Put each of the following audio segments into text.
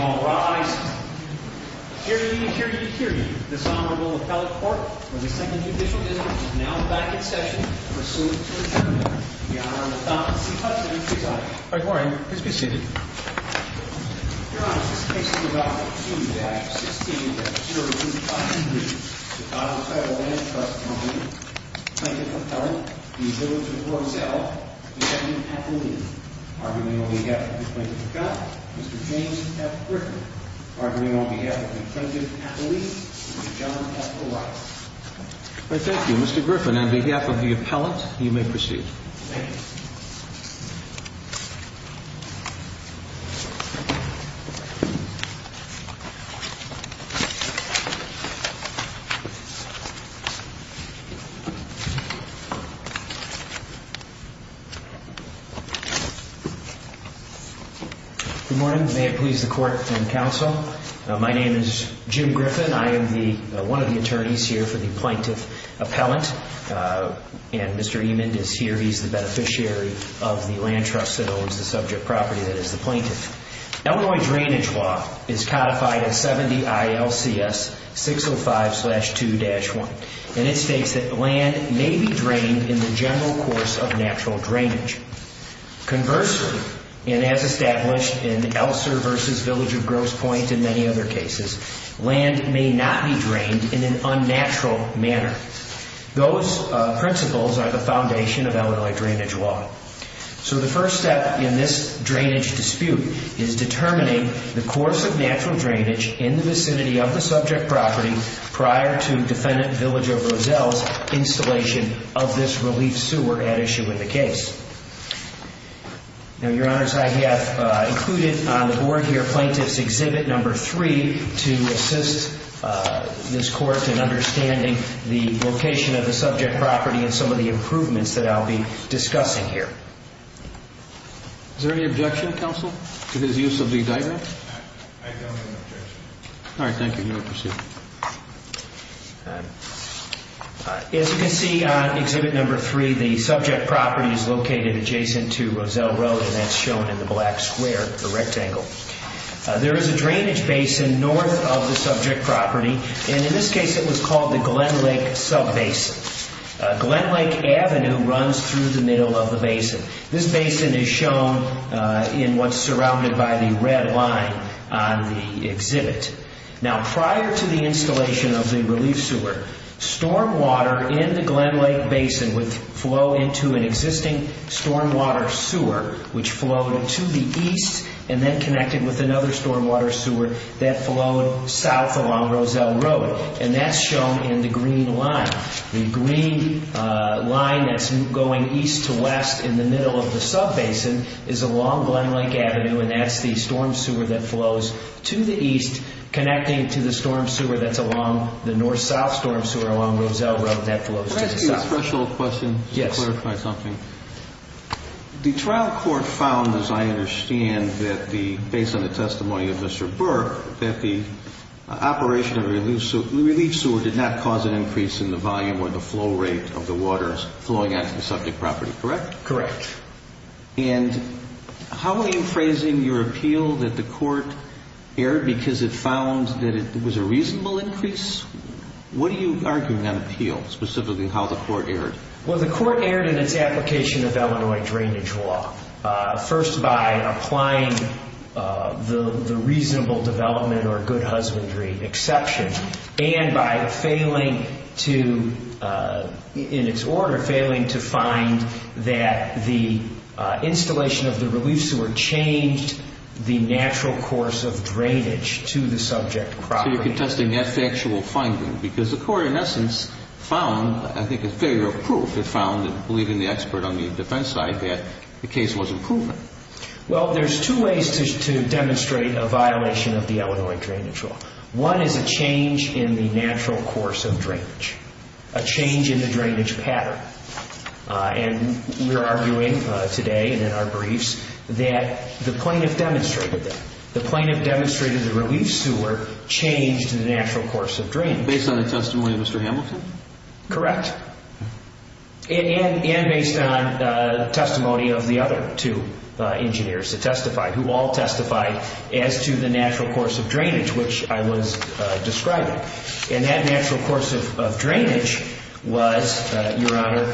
All rise. Hear ye, hear ye, hear ye. This Honorable Appellate Court for the Second Judicial Dismissal is now back in session. Pursuant to adjournment, the Honorable Thomas C. Hudson presides. By Glory. Please be seated. Your Honor, this case is about 2-16-0253. The Title Title Land Trust Co. v. Village of Roselle. Defendant Appellee. Arguing on behalf of Defendant Scott, Mr. James F. Griffin. Arguing on behalf of Defendant Appellee, Mr. John F. O'Reilly. I thank you. Mr. Griffin, on behalf of the appellant, you may proceed. Thank you. Good morning. May it please the Court and Counsel. My name is Jim Griffin. I am one of the attorneys here for the Plaintiff Appellant. And Mr. Emond is here. He's the beneficiary of the land trust that owns the subject property that is the plaintiff. Illinois drainage law is codified as 70 ILCS 605-2-1. And it states that land may be drained in the general course of natural drainage. Conversely, and as established in Elser v. Village of Grosse Pointe and many other cases, land may not be drained in an unnatural manner. Those principles are the foundation of Illinois drainage law. So the first step in this drainage dispute is determining the course of natural drainage in the vicinity of the subject property prior to Defendant Village of Roselle's installation of this relief sewer at issue in the case. Now, Your Honors, I have included on the board here Plaintiff's Exhibit Number 3 to assist this Court in understanding the location of the subject property and some of the improvements that I'll be discussing here. Is there any objection, Counsel, to his use of the indictment? I don't have an objection. All right, thank you. You may proceed. As you can see on Exhibit Number 3, the subject property is located adjacent to Roselle Road and that's shown in the black square, the rectangle. There is a drainage basin north of the subject property, and in this case it was called the Glenlake Subbasin. This basin is shown in what's surrounded by the red line on the exhibit. Now, prior to the installation of the relief sewer, stormwater in the Glenlake Basin would flow into an existing stormwater sewer, which flowed to the east and then connected with another stormwater sewer that flowed south along Roselle Road. And that's shown in the green line. The green line that's going east to west in the middle of the subbasin is along Glenlake Avenue and that's the storm sewer that flows to the east connecting to the storm sewer that's along the north-south storm sewer along Roselle Road that flows to the south. Can I ask you a threshold question to clarify something? Yes. The trial court found, as I understand, based on the testimony of Mr. Burke, that the operation of the relief sewer did not cause an increase in the volume or the flow rate of the waters flowing out of the subject property, correct? Correct. And how are you phrasing your appeal that the court erred because it found that it was a reasonable increase? What are you arguing on appeal, specifically how the court erred? Well, the court erred in its application of Illinois drainage law, first by applying the reasonable development or good husbandry exception and by failing to, in its order, failing to find that the installation of the relief sewer changed the natural course of drainage to the subject property. So you're contesting that factual finding because the court, in essence, found, I think, a failure of proof. It found, believing the expert on the defense side, that the case wasn't proven. Well, there's two ways to demonstrate a violation of the Illinois drainage law. One is a change in the natural course of drainage, a change in the drainage pattern. And we're arguing today and in our briefs that the plaintiff demonstrated that. The plaintiff demonstrated the relief sewer changed the natural course of drainage. Based on the testimony of Mr. Hamilton? Correct. And based on testimony of the other two engineers who testified, who all testified as to the natural course of drainage, which I was describing. And that natural course of drainage was, Your Honor,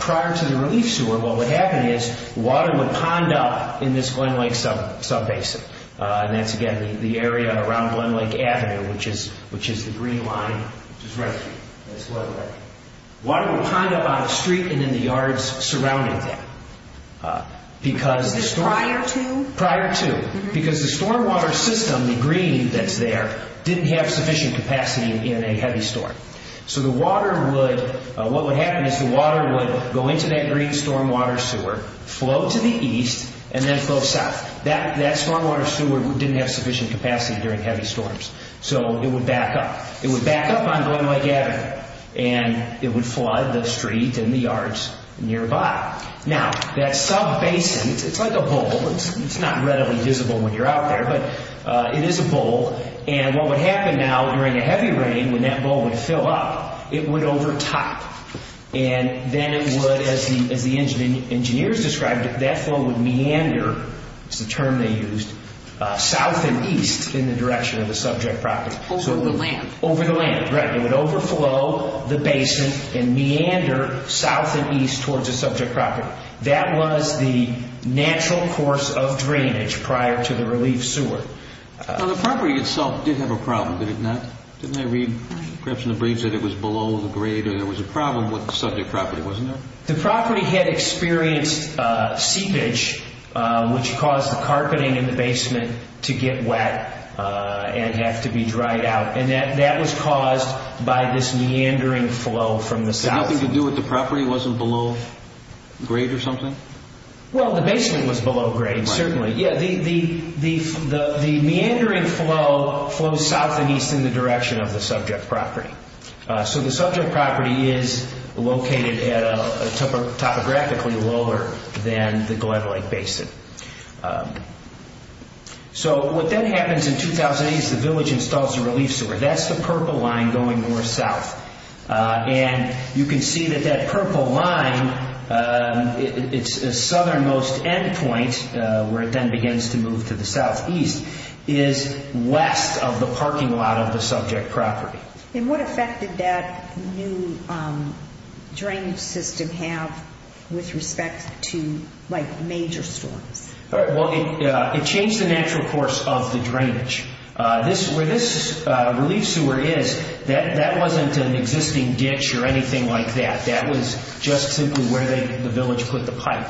prior to the relief sewer, what would happen is water would pond up in this Glenlake subbasin. And that's, again, the area around Glenlake Avenue, which is the green line. Water would pond up on a street and in the yards surrounding that. Prior to? Prior to. Because the stormwater system, the green that's there, didn't have sufficient capacity in a heavy storm. So the water would, what would happen is the water would go into that green stormwater sewer, flow to the east, and then flow south. That stormwater sewer didn't have sufficient capacity during heavy storms. So it would back up. It would back up on Glenlake Avenue. And it would flood the street and the yards nearby. Now, that subbasin, it's like a bowl. It's not readily visible when you're out there, but it is a bowl. And what would happen now during a heavy rain, when that bowl would fill up, it would overtop. And then it would, as the engineers described it, that flow would meander, that's the term they used, south and east in the direction of the subject property. Over the land. Over the land, right. It would overflow the basin and meander south and east towards the subject property. That was the natural course of drainage prior to the relief sewer. Now, the property itself did have a problem, did it not? Didn't I read perhaps in the briefs that it was below the grade or there was a problem with the subject property, wasn't there? The property had experienced seepage, which caused the carpeting in the basement to get wet and have to be dried out. And that was caused by this meandering flow from the south. Had nothing to do with the property? It wasn't below grade or something? Well, the basement was below grade, certainly. Yeah, the meandering flow flows south and east in the direction of the subject property. So the subject property is located topographically lower than the Gledelike Basin. So what then happens in 2008 is the village installs a relief sewer. That's the purple line going north-south. And you can see that that purple line, its southernmost endpoint, where it then begins to move to the southeast, is west of the parking lot of the subject property. And what effect did that new drainage system have with respect to major storms? Well, it changed the natural course of the drainage. Where this relief sewer is, that wasn't an existing ditch or anything like that. That was just simply where the village put the pipe.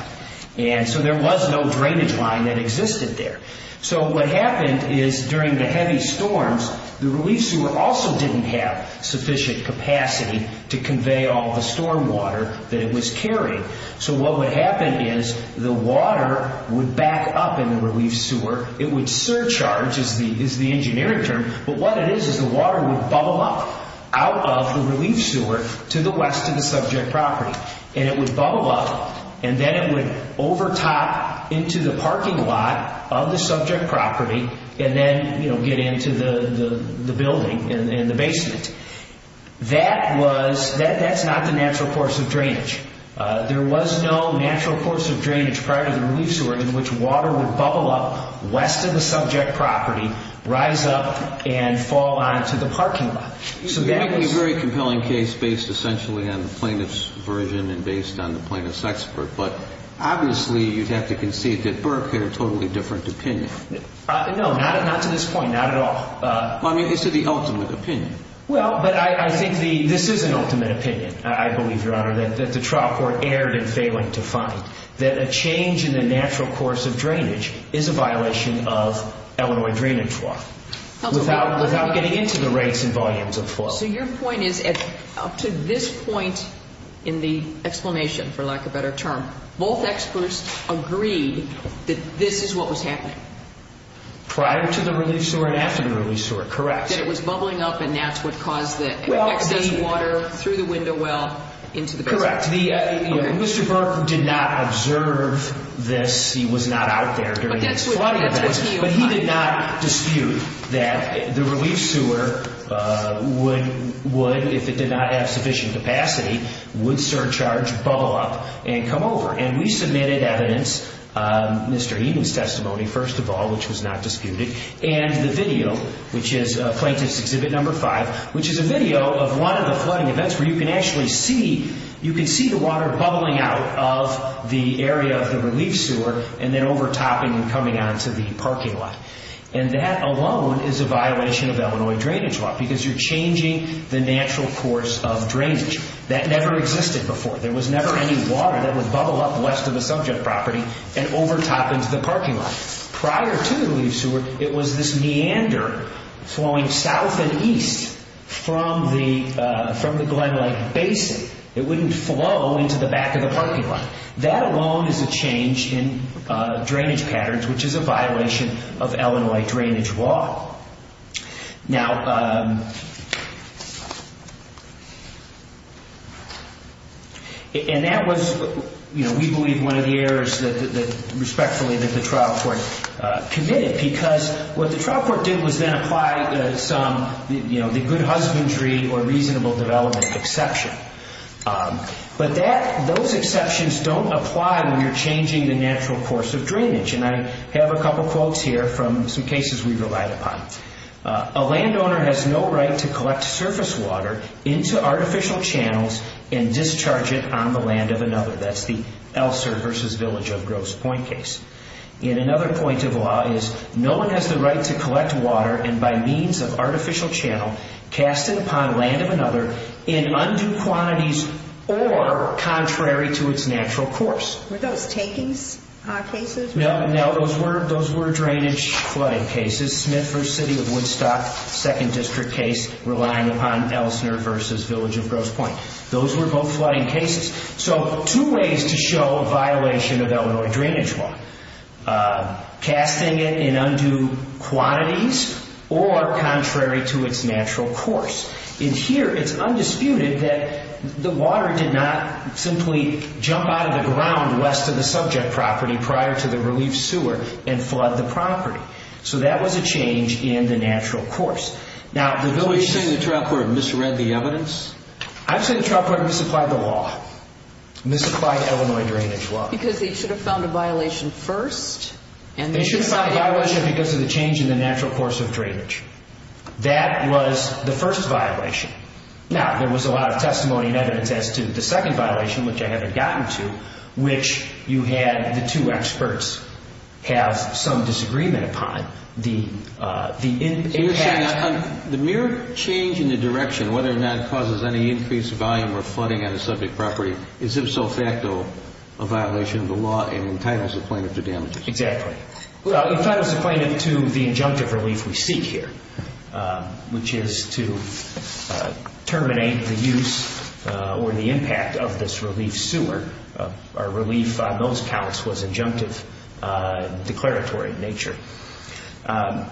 And so there was no drainage line that existed there. So what happened is during the heavy storms, the relief sewer also didn't have sufficient capacity to convey all the storm water that it was carrying. So what would happen is the water would back up in the relief sewer. It would surcharge is the engineering term. But what it is is the water would bubble up out of the relief sewer to the west of the subject property. And it would bubble up, and then it would overtop into the parking lot of the subject property and then get into the building in the basement. That's not the natural course of drainage. There was no natural course of drainage prior to the relief sewer in which water would bubble up west of the subject property, rise up, and fall onto the parking lot. You have a very compelling case based essentially on the plaintiff's version and based on the plaintiff's expert, but obviously you'd have to concede that Burke had a totally different opinion. No, not to this point, not at all. I mean, this is the ultimate opinion. Well, but I think this is an ultimate opinion, I believe, Your Honor, that the trial court erred in failing to find that a change in the natural course of drainage is a violation of Illinois drainage law without getting into the rates and volumes of fault. So your point is up to this point in the explanation, for lack of a better term, both experts agreed that this is what was happening? Prior to the relief sewer and after the relief sewer, correct. That it was bubbling up and that's what caused the excess water through the window well into the basement. Correct. Mr. Burke did not observe this. He was not out there during these flooding events, but he did not dispute that the relief sewer would, if it did not have sufficient capacity, would surcharge, bubble up, and come over. And we submitted evidence, Mr. Eden's testimony first of all, which was not disputed, and the video, which is Plaintiff's Exhibit No. 5, which is a video of one of the flooding events where you can actually see the water bubbling out of the area of the relief sewer and then overtopping and coming onto the parking lot. And that alone is a violation of Illinois drainage law because you're changing the natural course of drainage. That never existed before. There was never any water that would bubble up west of a subject property and overtop into the parking lot. Prior to the relief sewer, it was this meander flowing south and east from the Glenlight Basin. It wouldn't flow into the back of the parking lot. That alone is a change in drainage patterns, which is a violation of Illinois drainage law. And that was, we believe, one of the errors that, respectfully, that the trial court committed because what the trial court did was then apply some, you know, the good husbandry or reasonable development exception. But those exceptions don't apply when you're changing the natural course of drainage. And I have a couple quotes here from some cases we relied upon. A landowner has no right to collect surface water into artificial channels and discharge it on the land of another. That's the Elser v. Village of Groves Point case. And another point of law is no one has the right to collect water and by means of artificial channel, cast it upon land of another in undue quantities or contrary to its natural course. Were those takings cases? No, those were drainage flooding cases. Smith v. City of Woodstock, second district case, relying upon Elsner v. Village of Groves Point. Those were both flooding cases. So two ways to show a violation of Illinois drainage law, casting it in undue quantities or contrary to its natural course. And here it's undisputed that the water did not simply jump out of the ground west of the subject property prior to the relief sewer and flood the property. So that was a change in the natural course. Now, the village... Are you saying the trial court misread the evidence? I'm saying the trial court misapplied the law, misapplied Illinois drainage law. Because they should have found a violation first and then decided... They should have found a violation because of the change in the natural course of drainage. That was the first violation. Now, there was a lot of testimony and evidence as to the second violation, which I haven't gotten to, which you had the two experts have some disagreement upon. The impact... The mere change in the direction, whether or not it causes any increased volume or flooding on a subject property, is if so facto a violation of the law and entitles the plaintiff to damages. Exactly. It entitles the plaintiff to the injunctive relief we seek here, which is to terminate the use or the impact of this relief sewer. Our relief on those counts was injunctive, declaratory in nature. And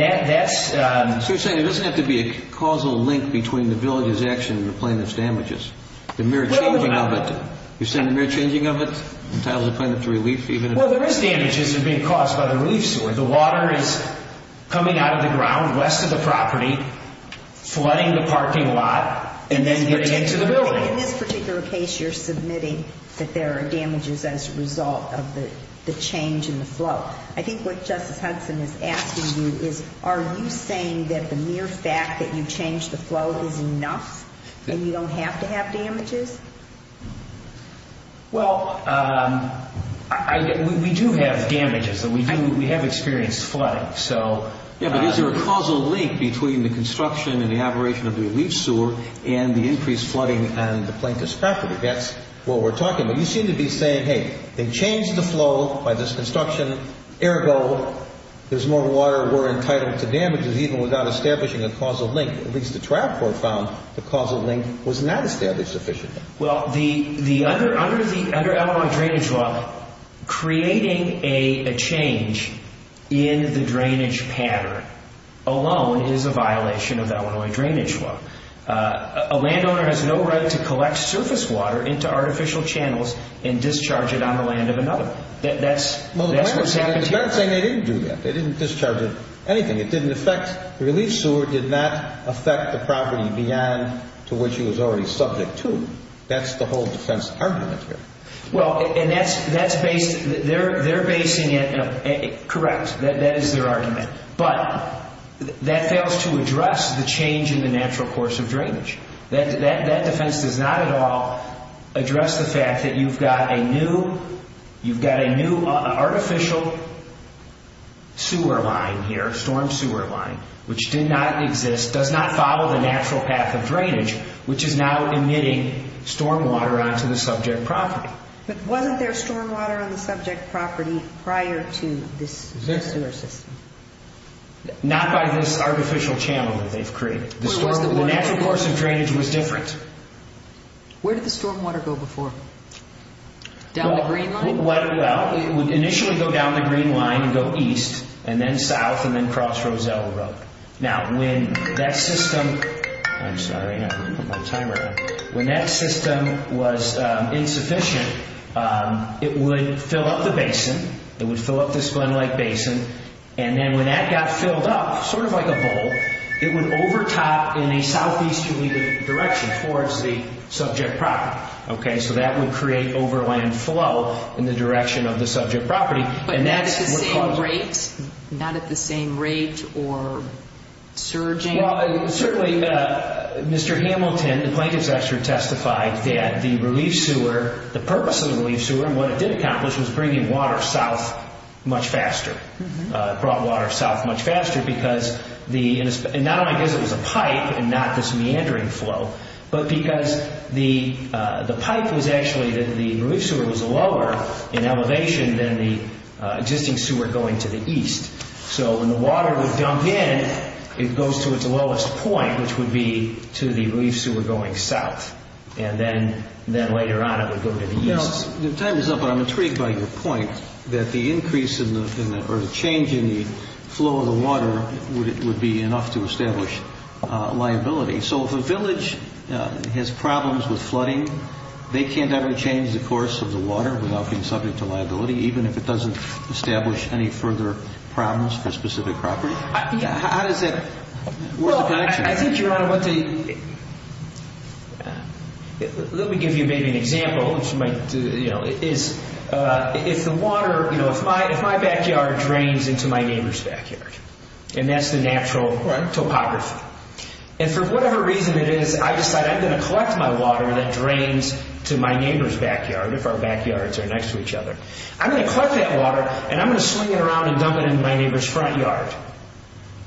that's... So you're saying there doesn't have to be a causal link between the village's action and the plaintiff's damages. The mere changing of it. You're saying the mere changing of it entitles the plaintiff to relief even if... Well, there is damages that are being caused by the relief sewer. The water is coming out of the ground west of the property, flooding the parking lot, and then getting into the building. In this particular case, you're submitting that there are damages as a result of the change in the flow. I think what Justice Hudson is asking you is, are you saying that the mere fact that you changed the flow is enough and you don't have to have damages? Well, we do have damages and we have experienced flooding. Yeah, but is there a causal link between the construction and the operation of the relief sewer and the increased flooding on the plaintiff's property? That's what we're talking about. You seem to be saying, hey, they changed the flow by this construction. Ergo, there's more water. We're entitled to damages even without establishing a causal link. At least the trial court found the causal link was not established sufficiently. Well, under the Illinois Drainage Law, creating a change in the drainage pattern alone is a violation of the Illinois Drainage Law. A landowner has no right to collect surface water into artificial channels and discharge it on the land of another. That's what's happened here. They didn't do that. They didn't discharge it, anything. It didn't affect the relief sewer. It did not affect the property beyond to which it was already subject to. That's the whole defense argument here. Well, they're basing it. Correct. That is their argument. But that fails to address the change in the natural course of drainage. That defense does not at all address the fact that you've got a new artificial sewer line here, storm sewer line, which did not exist, does not follow the natural path of drainage, which is now emitting storm water onto the subject property. But wasn't there storm water on the subject property prior to this sewer system? Not by this artificial channel that they've created. The natural course of drainage was different. Where did the storm water go before? Down the green line? Well, it would initially go down the green line and go east, and then south, and then cross Roselle Road. Now, when that system was insufficient, it would fill up the basin. It would fill up this Glenlake Basin. And then when that got filled up, sort of like a bowl, it would overtop in a southeasterly direction towards the subject property. So that would create overland flow in the direction of the subject property. But not at the same rate? Not at the same rate or surging? Well, certainly Mr. Hamilton, the plaintiff's executive, testified that the relief sewer, the purpose of the relief sewer, and what it did accomplish was bringing water south much faster. It brought water south much faster because not only because it was a pipe and not this meandering flow, but because the pipe was actually, the relief sewer was lower in elevation than the existing sewer going to the east. So when the water would dump in, it goes to its lowest point, which would be to the relief sewer going south. And then later on it would go to the east. The time is up, but I'm intrigued by your point that the increase or the change in the flow of the water would be enough to establish liability. So if a village has problems with flooding, they can't ever change the course of the water without being subject to liability, even if it doesn't establish any further problems for a specific property? How does that work in connection? Well, I think, Your Honor, let me give you maybe an example. If the water, if my backyard drains into my neighbor's backyard, and that's the natural topography. And for whatever reason it is, I decide I'm going to collect my water that drains to my neighbor's backyard, if our backyards are next to each other. I'm going to collect that water, and I'm going to swing it around and dump it into my neighbor's front yard.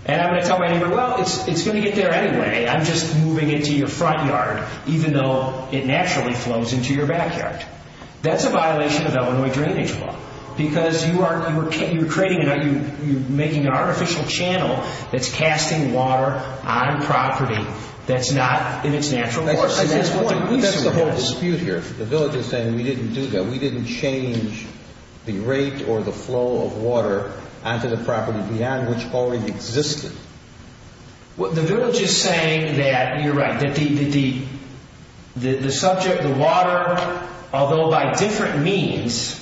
And I'm going to tell my neighbor, well, it's going to get there anyway. I'm just moving it to your front yard, even though it naturally flows into your backyard. That's a violation of Illinois drainage law, because you're making an artificial channel that's casting water on property that's not in its natural course. That's the whole dispute here. The village is saying we didn't do that. We didn't change the rate or the flow of water onto the property beyond which already existed. The village is saying that you're right. The subject, the water, although by different means,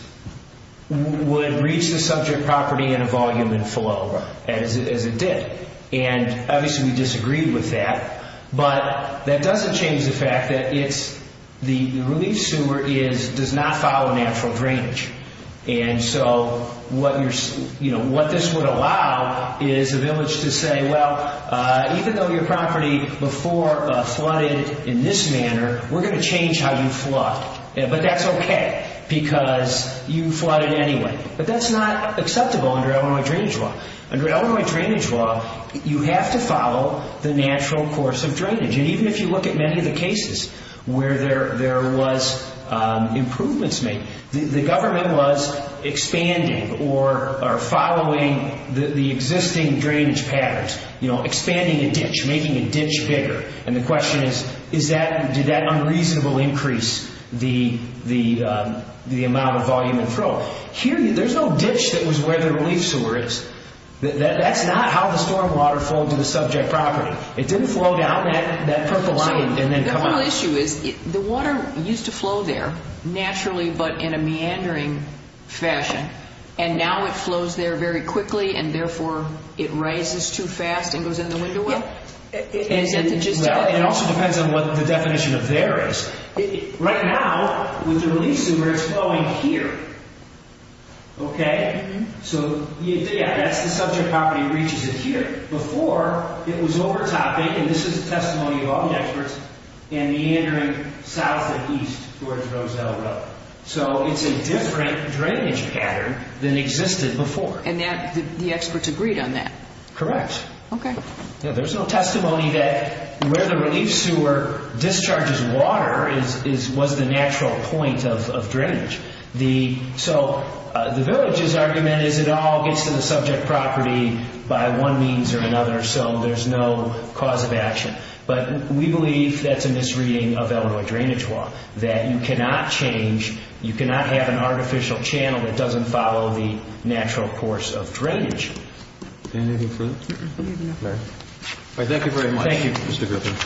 would reach the subject property in a volume and flow as it did. And obviously we disagreed with that. But that doesn't change the fact that the relief sewer does not follow natural drainage. And so what this would allow is the village to say, well, even though your property before flooded in this manner, we're going to change how you flood. But that's okay, because you flooded anyway. But that's not acceptable under Illinois drainage law. Under Illinois drainage law, you have to follow the natural course of drainage. And even if you look at many of the cases where there was improvements made, the government was expanding or following the existing drainage patterns, expanding a ditch, making a ditch bigger. And the question is, did that unreasonably increase the amount of volume and flow? There's no ditch that was where the relief sewer is. That's not how the stormwater flowed to the subject property. It didn't flow down that purple line and then come up. The real issue is the water used to flow there naturally but in a meandering fashion. And now it flows there very quickly, and therefore it rises too fast and goes in the window well? It also depends on what the definition of there is. Right now, with the relief sewer, it's flowing here. Okay? So, yeah, that's the subject property reaches it here. Before, it was overtopping, and this is a testimony of all the experts, and meandering south to east towards Roselle Road. So it's a different drainage pattern than existed before. And the experts agreed on that? Correct. Okay. There's no testimony that where the relief sewer discharges water was the natural point of drainage. So the village's argument is it all gets to the subject property by one means or another, so there's no cause of action. But we believe that's a misreading of Illinois drainage law, that you cannot change, you cannot have an artificial channel that doesn't follow the natural course of drainage. Anything further? No. All right. Thank you very much, Mr. Griffin. Thank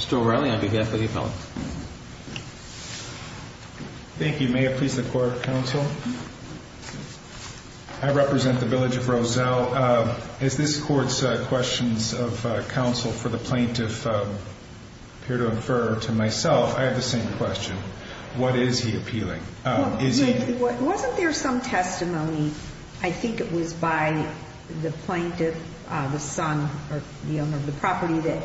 you. Mr. O'Reilly, on behalf of the appellants. Thank you. May it please the Court, Counsel? I represent the village of Roselle. As this Court's questions of counsel for the plaintiff appear to infer to myself, I have the same question. What is he appealing? Wasn't there some testimony, I think it was by the plaintiff, the son, or the owner of the property, that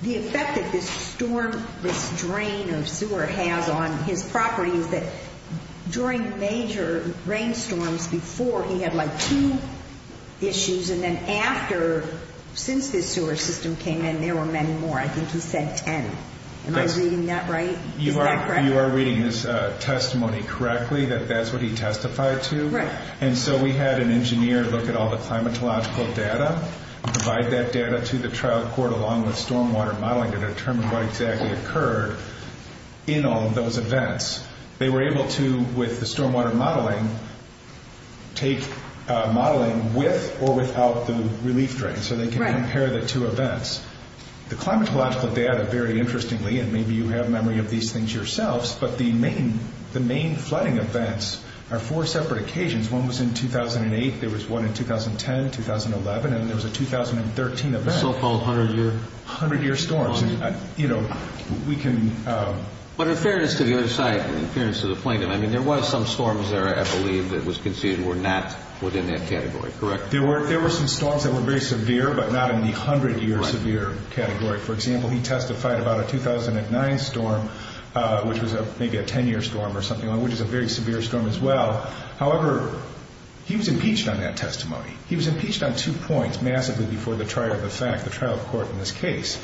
the effect that this storm, this drain or sewer has on his property is that during major rainstorms before, he had like two issues, and then after, since this sewer system came in, there were many more. I think he said 10. Am I reading that right? Is that correct? You are reading this testimony correctly, that that's what he testified to. Right. And so we had an engineer look at all the climatological data, provide that data to the trial court along with stormwater modeling to determine what exactly occurred in all of those events. They were able to, with the stormwater modeling, take modeling with or without the relief drain so they could compare the two events. The climatological data, very interestingly, and maybe you have memory of these things yourselves, but the main flooding events are four separate occasions. One was in 2008, there was one in 2010, 2011, and there was a 2013 event. So-called 100-year? 100-year storms. But in fairness to the other side, in fairness to the plaintiff, I mean there was some storms there, I believe, that was conceded were not within that category, correct? There were some storms that were very severe but not in the 100-year severe category. For example, he testified about a 2009 storm, which was maybe a 10-year storm or something, which is a very severe storm as well. However, he was impeached on that testimony. He was impeached on two points massively before the trial of the fact, the trial court in this case.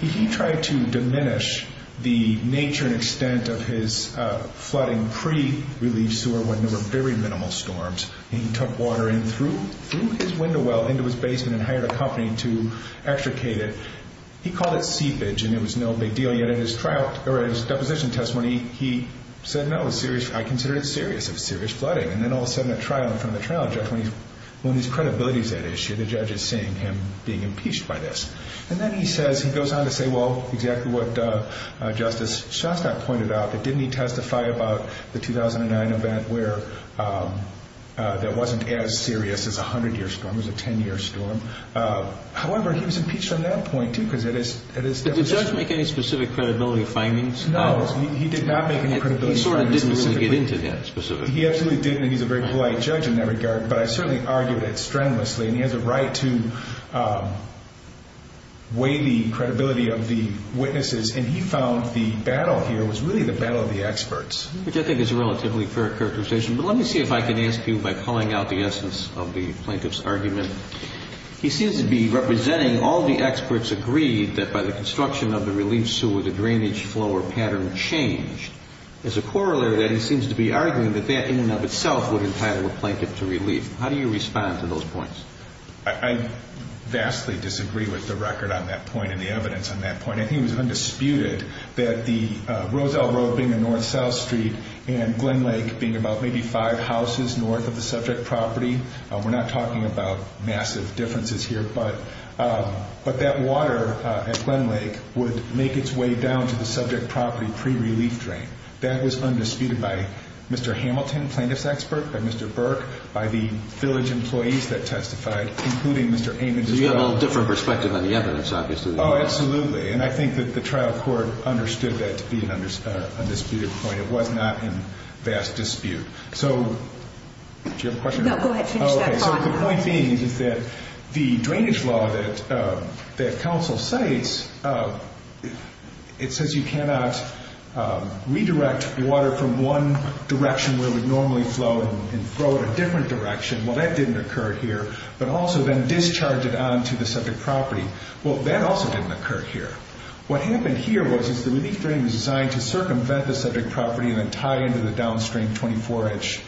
He tried to diminish the nature and extent of his flooding pre-relief sewer when there were very minimal storms. He took water in through his window well into his basement and hired a company to extricate it. He called it seepage and it was no big deal. Yet at his trial, or at his deposition testimony, he said, no, I consider it serious, it was serious flooding. And then all of a sudden at trial, in front of the trial judge, when his credibility is at issue, the judge is seeing him being impeached by this. And then he says, he goes on to say, well, exactly what Justice Shostak pointed out, that didn't he testify about the 2009 event where that wasn't as serious as a 100-year storm, it was a 10-year storm. However, he was impeached from that point too because at his deposition. Did the judge make any specific credibility findings? No, he did not make any credibility findings. He sort of didn't really get into that specifically. He absolutely didn't, and he's a very polite judge in that regard. But I certainly argued it strenuously. And he has a right to weigh the credibility of the witnesses. And he found the battle here was really the battle of the experts. Which I think is a relatively fair characterization. But let me see if I can ask you, by pulling out the essence of the plaintiff's argument, he seems to be representing all the experts agreed that by the construction of the relief sewer, the drainage flow or pattern changed. As a corollary to that, he seems to be arguing that that in and of itself would entitle a plaintiff to relief. How do you respond to those points? I vastly disagree with the record on that point and the evidence on that point. I think it was undisputed that the Roselle Road being a north-south street and Glen Lake being about maybe five houses north of the subject property, we're not talking about massive differences here, but that water at Glen Lake would make its way down to the subject property pre-relief drain. That was undisputed by Mr. Hamilton, plaintiff's expert, by Mr. Burke, by the village employees that testified, including Mr. Amons. So you have a little different perspective on the evidence, obviously. Oh, absolutely. And I think that the trial court understood that to be an undisputed point. It was not in vast dispute. So do you have a question? No, go ahead. Finish that thought. Okay, so the point being is that the drainage law that council cites, it says you cannot redirect water from one direction where it would normally flow and flow in a different direction. Well, that didn't occur here. But also then discharge it onto the subject property. Well, that also didn't occur here. What happened here was the relief drain was designed to circumvent the subject property and then tie into the downstream 24-inch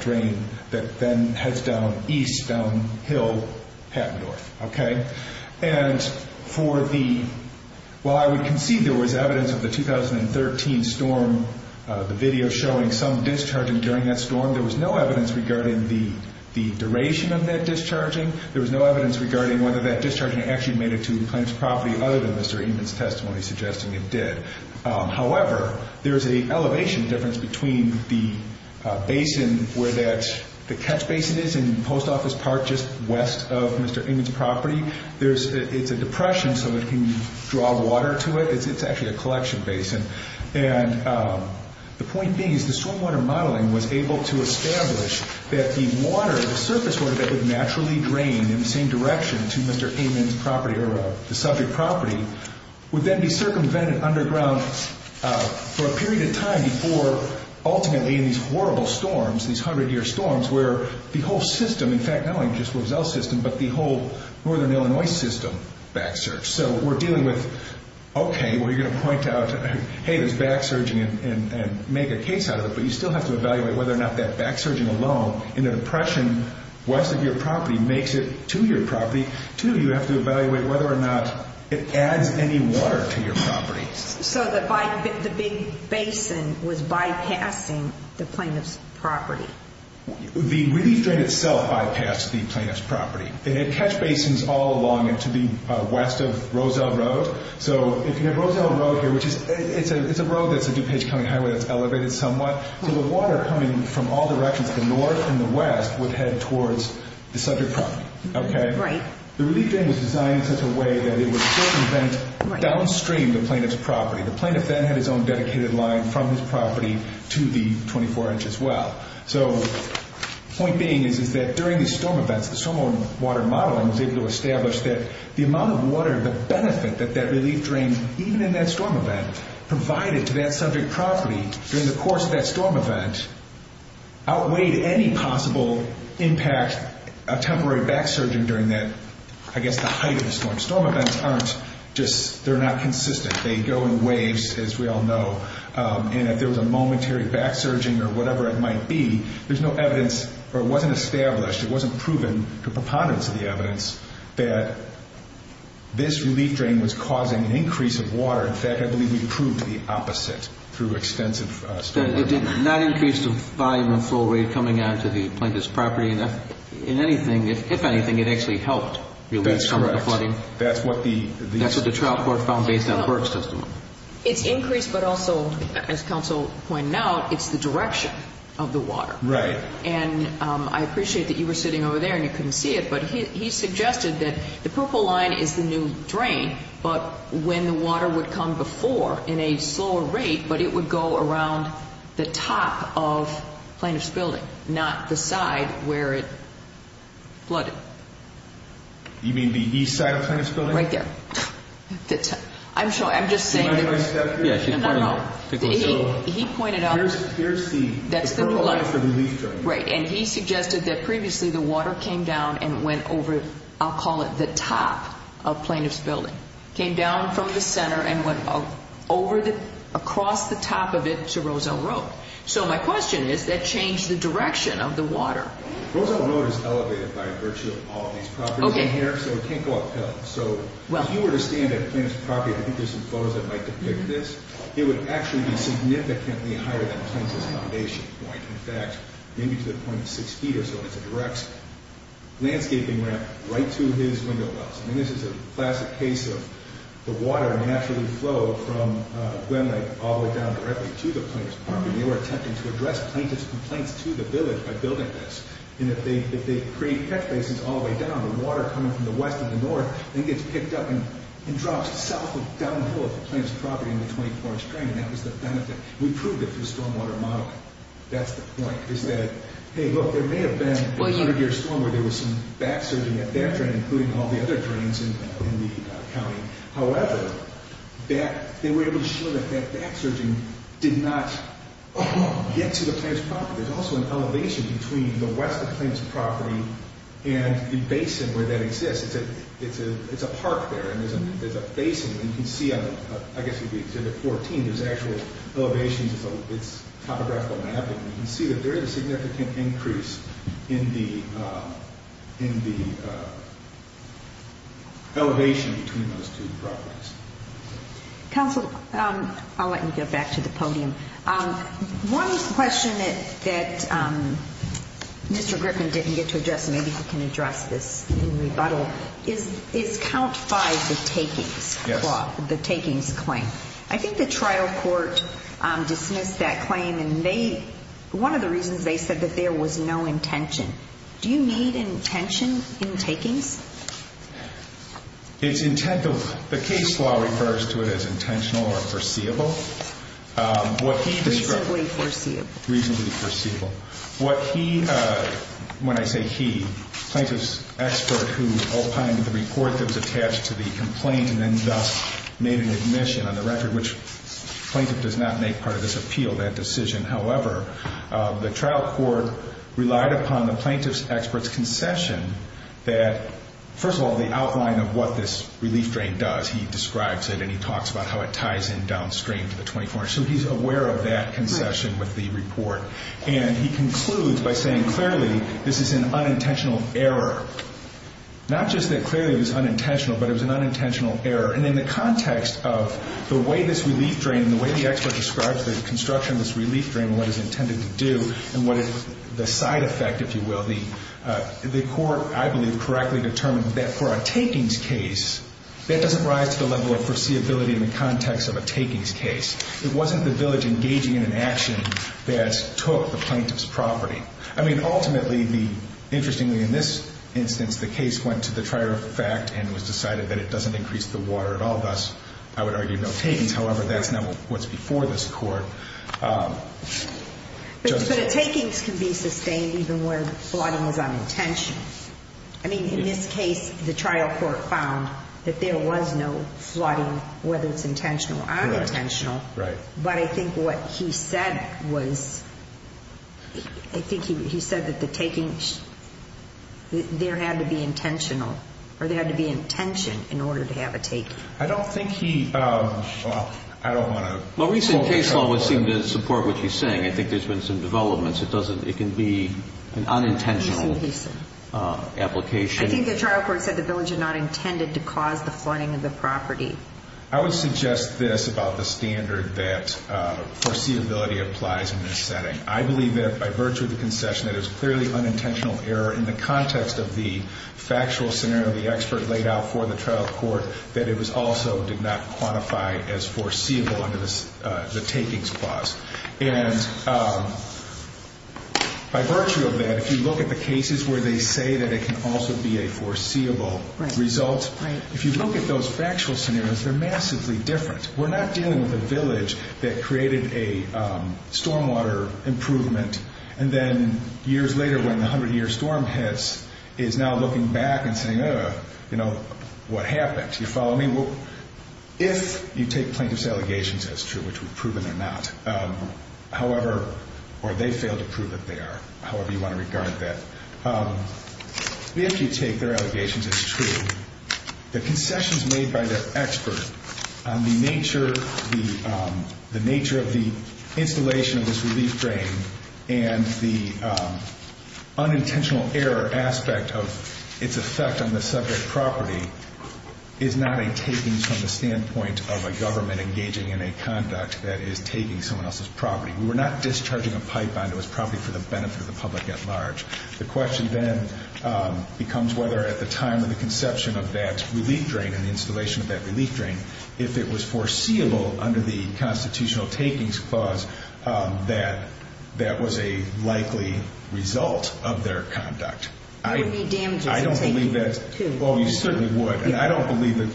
drain that then heads down east, down hill, path north, okay? And for the, while I would concede there was evidence of the 2013 storm, the video showing some discharging during that storm, there was no evidence regarding the duration of that discharging. There was no evidence regarding whether that discharging actually made it to the suggesting it did. However, there's an elevation difference between the basin where that, the catch basin is in the post office park just west of Mr. Amon's property. There's, it's a depression so it can draw water to it. It's actually a collection basin. And the point being is the stormwater modeling was able to establish that the water, the surface water that would naturally drain in the same direction to Mr. Amon's property or the subject property would then be circumvented underground for a period of time before ultimately in these horrible storms, these 100-year storms, where the whole system, in fact, not only just Roselle system, but the whole northern Illinois system back surged. So we're dealing with, okay, well, you're going to point out, hey, there's back surging and make a case out of it, but you still have to evaluate whether or not that back surging alone in the depression west of your property makes it to your property. Two, you have to evaluate whether or not it adds any water to your property. So the big basin was bypassing the plaintiff's property. The relief drain itself bypassed the plaintiff's property. It had catch basins all along and to the west of Roselle Road. So if you have Roselle Road here, which is, it's a road that's a DuPage County highway that's elevated somewhat, so the water coming from all directions, the north and the west, would head towards the subject property. Okay? Right. The relief drain was designed in such a way that it would prevent downstream the plaintiff's property. The plaintiff then had his own dedicated line from his property to the 24-inch as well. So the point being is that during the storm events, the stormwater modeling was able to establish that the amount of water, the benefit that that relief drain, even in that storm event, provided to that subject property during the course of that storm event outweighed any possible impact, a temporary back surging during that, I guess, the height of the storm. Storm events aren't just, they're not consistent. They go in waves, as we all know, and if there was a momentary back surging or whatever it might be, there's no evidence, or it wasn't established, it wasn't proven to preponderance of the evidence, that this relief drain was causing an increase of water. In fact, I believe we proved the opposite through extensive stormwater modeling. It did not increase the volume of flow rate coming onto the plaintiff's property. In anything, if anything, it actually helped relieve some of the flooding. That's correct. That's what the trial court found based on the Burke's testimony. It's increased, but also, as counsel pointed out, it's the direction of the water. Right. And I appreciate that you were sitting over there and you couldn't see it, but he suggested that the purple line is the new drain, but when the water would come before in a slower rate, but it would go around the top of the plaintiff's building, not the side where it flooded. You mean the east side of the plaintiff's building? Right there. I'm just saying. Can I step here? Yes, you can. No, no. He pointed out. Here's the purple line is the relief drain. Right, and he suggested that previously the water came down and went over, I'll call it the top of plaintiff's building, came down from the center and went across the top of it to Roselle Road. So my question is, that changed the direction of the water. Roselle Road is elevated by virtue of all of these properties in here, so it can't go uphill. So if you were to stand at the plaintiff's property, I think there's some photos that might depict this, it would actually be significantly higher than the plaintiff's foundation point. In fact, maybe to the point of six feet or so is the direction. Landscaping ramp right to his window wells. I mean, this is a classic case of the water naturally flowed from Glen Lake all the way down directly to the plaintiff's property. They were attempting to address plaintiff's complaints to the village by building this. And if they create catch basins all the way down, the water coming from the west and the north then gets picked up and drops south with downpour of the plaintiff's property in the 24-inch drain, and that was the benefit. We proved it through stormwater modeling. That's the point, is that, hey, look, there may have been a 100-year storm where there was some back-surging at that drain, including all the other drains in the county. However, they were able to show that that back-surging did not get to the plaintiff's property. There's also an elevation between the west of the plaintiff's property and the basin where that exists. It's a park there, and there's a basin, and you can see, I guess you could say at 14, there's actual elevations. It's topographical mapping. You can see that there is a significant increase in the elevation between those two properties. Counsel, I'll let you go back to the podium. One question that Mr. Griffin didn't get to address, and maybe he can address this in rebuttal, is Count 5, the takings, the takings claim. I think the trial court dismissed that claim, and one of the reasons they said that there was no intention. Do you need intention in takings? The case law refers to it as intentional or foreseeable. Reasonably foreseeable. Reasonably foreseeable. When I say he, plaintiff's expert who opined to the report that was attached to the complaint and then thus made an admission on the record, which plaintiff does not make part of this appeal, that decision, however, the trial court relied upon the plaintiff's expert's concession that, first of all, the outline of what this relief drain does. He describes it, and he talks about how it ties in downstream to the 24-hour. So he's aware of that concession with the report, and he concludes by saying clearly this is an unintentional error. Not just that clearly it was unintentional, but it was an unintentional error. And in the context of the way this relief drain, the way the expert describes the construction of this relief drain and what it's intended to do and what the side effect, if you will, the court, I believe, correctly determined that for a takings case, that doesn't rise to the level of foreseeability in the context of a takings case. It wasn't the village engaging in an action that took the plaintiff's property. I mean, ultimately, interestingly in this instance, the case went to the trier of fact and was decided that it doesn't increase the water at all. Thus, I would argue no takings. However, that's not what's before this court. But a takings can be sustained even where the flooding was unintentional. I mean, in this case, the trial court found that there was no flooding, whether it's intentional or unintentional. Right. But I think what he said was, I think he said that the takings, there had to be intentional or there had to be intention in order to have a taking. I don't think he, well, I don't want to. Well, recent case law would seem to support what he's saying. I think there's been some developments. It doesn't, it can be an unintentional application. I think the trial court said the village had not intended to cause the flooding of the property. I would suggest this about the standard that foreseeability applies in this setting. I believe that by virtue of the concession, that it was clearly unintentional error in the context of the factual scenario the expert laid out for the trial court, that it was also did not quantify as foreseeable under the takings clause. And by virtue of that, if you look at the cases where they say that it can also be a foreseeable result, if you look at those factual scenarios, they're massively different. We're not dealing with a village that created a stormwater improvement and then years later when the 100-year storm hits is now looking back and saying, you know, what happened, do you follow me? Well, if you take plaintiff's allegations as true, which we've proven they're not, however, or they failed to prove that they are, however you want to regard that. If you take their allegations as true, the concessions made by the expert on the nature of the installation of this relief drain and the unintentional error aspect of its effect on the subject property is not a takings from the standpoint of a government engaging in a conduct that is taking someone else's property. We were not discharging a pipe onto his property for the benefit of the public at large. The question then becomes whether at the time of the conception of that relief drain and the installation of that relief drain, if it was foreseeable under the Constitutional Takings Clause that that was a likely result of their conduct. I don't believe that's. Well, you certainly would. And I don't believe that.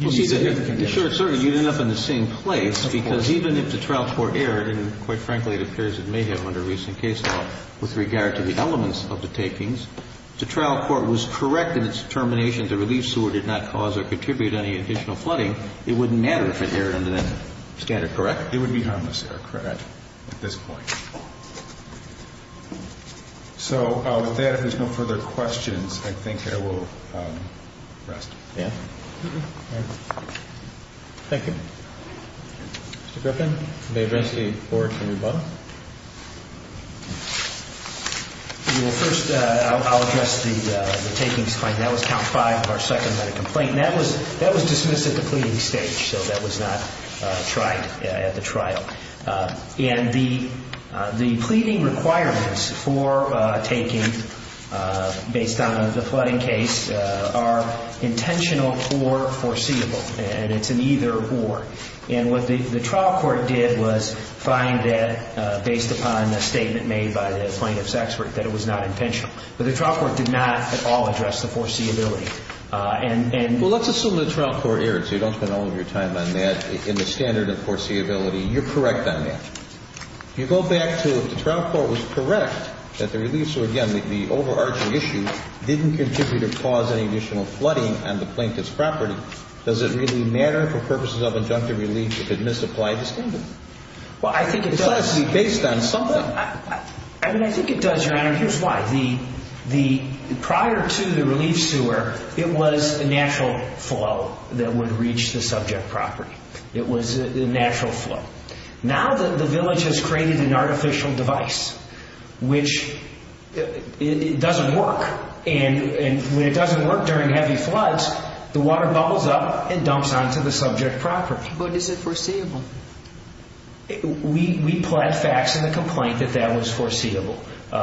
Well, see, you'd end up in the same place because even if the trial court erred, and quite frankly it appears it may have under recent case law with regard to the elements of the takings, if the trial court was correct in its determination that the relief sewer did not cause or contribute any additional flooding, it wouldn't matter if it erred under that standard, correct? It would be harmless error, correct, at this point. So with that, if there's no further questions, I think I will rest. Thank you. Mr. Griffin, may I address the board for rebuttal? Well, first I'll address the takings complaint. That was count five of our second medical complaint, and that was dismissed at the pleading stage, so that was not tried at the trial. And the pleading requirements for taking based on the flooding case are intentional or foreseeable, and it's an either or. And what the trial court did was find that, based upon a statement made by the plaintiff's expert, that it was not intentional. But the trial court did not at all address the foreseeability. Well, let's assume the trial court erred, so you don't spend all of your time on that. In the standard of foreseeability, you're correct on that. You go back to if the trial court was correct that the relief sewer, again, the overarching issue didn't contribute or cause any additional flooding on the plaintiff's property, does it really matter for purposes of injunctive relief if it misapplied the standard? Well, I think it does. It has to be based on something. I mean, I think it does, Your Honor, and here's why. Prior to the relief sewer, it was a natural flow that would reach the subject property. It was a natural flow. Now the village has created an artificial device which doesn't work, and when it doesn't work during heavy floods, the water bubbles up and dumps onto the subject property. But is it foreseeable? We plant facts in the complaint that that was foreseeable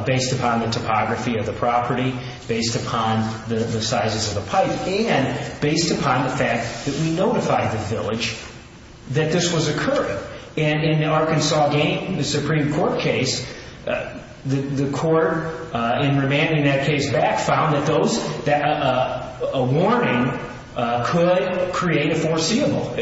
based upon the topography of the property, based upon the sizes of the pipe, and based upon the fact that we notified the village that this was occurring. And in the Arkansas Supreme Court case, the court, in remanding that case back, found that a warning could create a foreseeable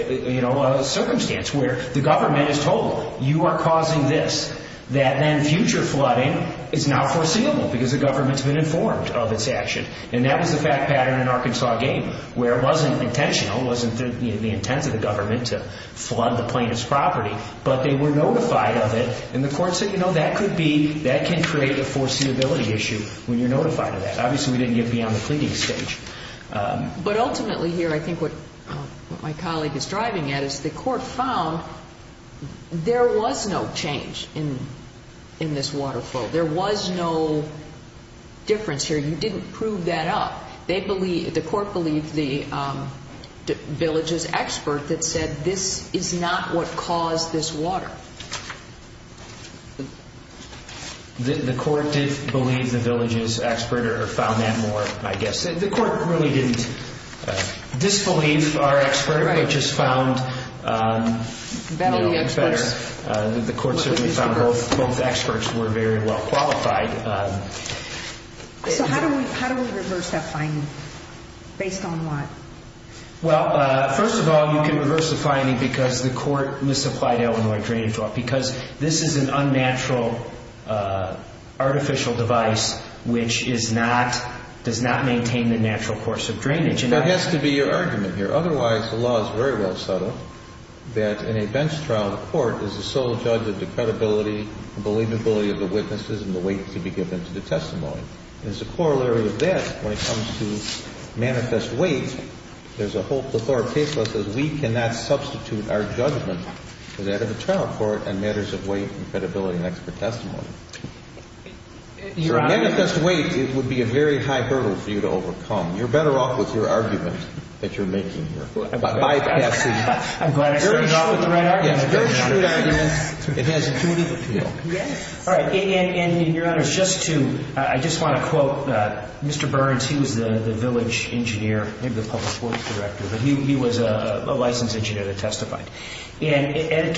circumstance where the government is told, you are causing this, that then future flooding is now foreseeable because the government's been informed of its action. And that was the fact pattern in Arkansas game where it wasn't intentional, it wasn't the intent of the government to flood the plaintiff's property, but they were notified of it, and the court said, you know, that could be, that can create a foreseeability issue when you're notified of that. Obviously, we didn't get beyond the pleading stage. But ultimately here, I think what my colleague is driving at is the court found there was no change in this water flow. There was no difference here. You didn't prove that up. The court believed the village's expert that said this is not what caused this water. The court did believe the village's expert or found that more, I guess. The court really didn't disbelieve our expert, but just found, you know, it's better. The court certainly found both experts were very well qualified. So how do we reverse that finding based on what? Well, first of all, you can reverse the finding because the court misapplied Illinois drainage law because this is an unnatural artificial device which is not, does not maintain the natural course of drainage. There has to be your argument here. Otherwise, the law is very well set up that in a bench trial, the court is the sole judge of the credibility and believability of the witnesses and the weight to be given to the testimony. And as a corollary of that, when it comes to manifest weight, there's a whole plethora of case laws that says we cannot substitute our judgment for that of a trial court in matters of weight and credibility and expert testimony. For a manifest weight, it would be a very high hurdle for you to overcome. You're better off with your argument that you're making here. I'm glad I started off with the right argument. It's a very true argument. It has intuitive appeal. All right. And, Your Honor, just to, I just want to quote Mr. Burns. He was the village engineer, maybe the public works director. But he was a licensed engineer that testified. And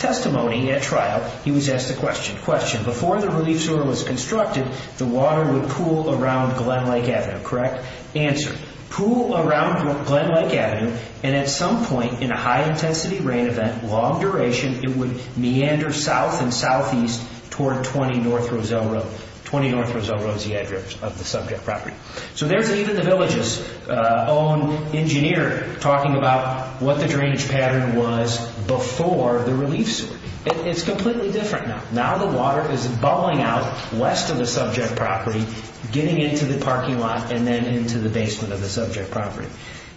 testimony at trial, he was asked a question. Question. Before the relief sewer was constructed, the water would pool around Glenlake Avenue, correct? Answer. Pool around Glenlake Avenue, and at some point in a high-intensity rain event, long duration, it would meander south and southeast toward 20 North Roselle Road, 20 North Roselle Road, the address of the subject property. So there's even the village's own engineer talking about what the drainage pattern was before the relief sewer. It's completely different now. Now the water is bubbling out west of the subject property, getting into the parking lot and then into the basement of the subject property.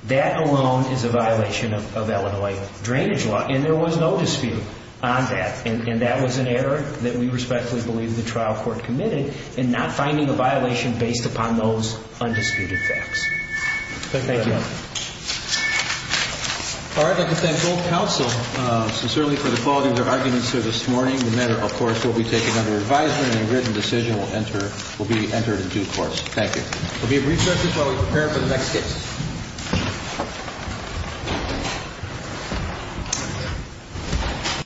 That alone is a violation of Illinois drainage law, and there was no dispute on that. And that was an error that we respectfully believe the trial court committed in not finding a violation based upon those undisputed facts. Thank you, Your Honor. All right. I'd like to thank both counsel sincerely for the quality of their arguments here this morning. The matter, of course, will be taken under advisement, and a written decision will be entered in due course. Thank you. We'll be at recess just while we prepare for the next case.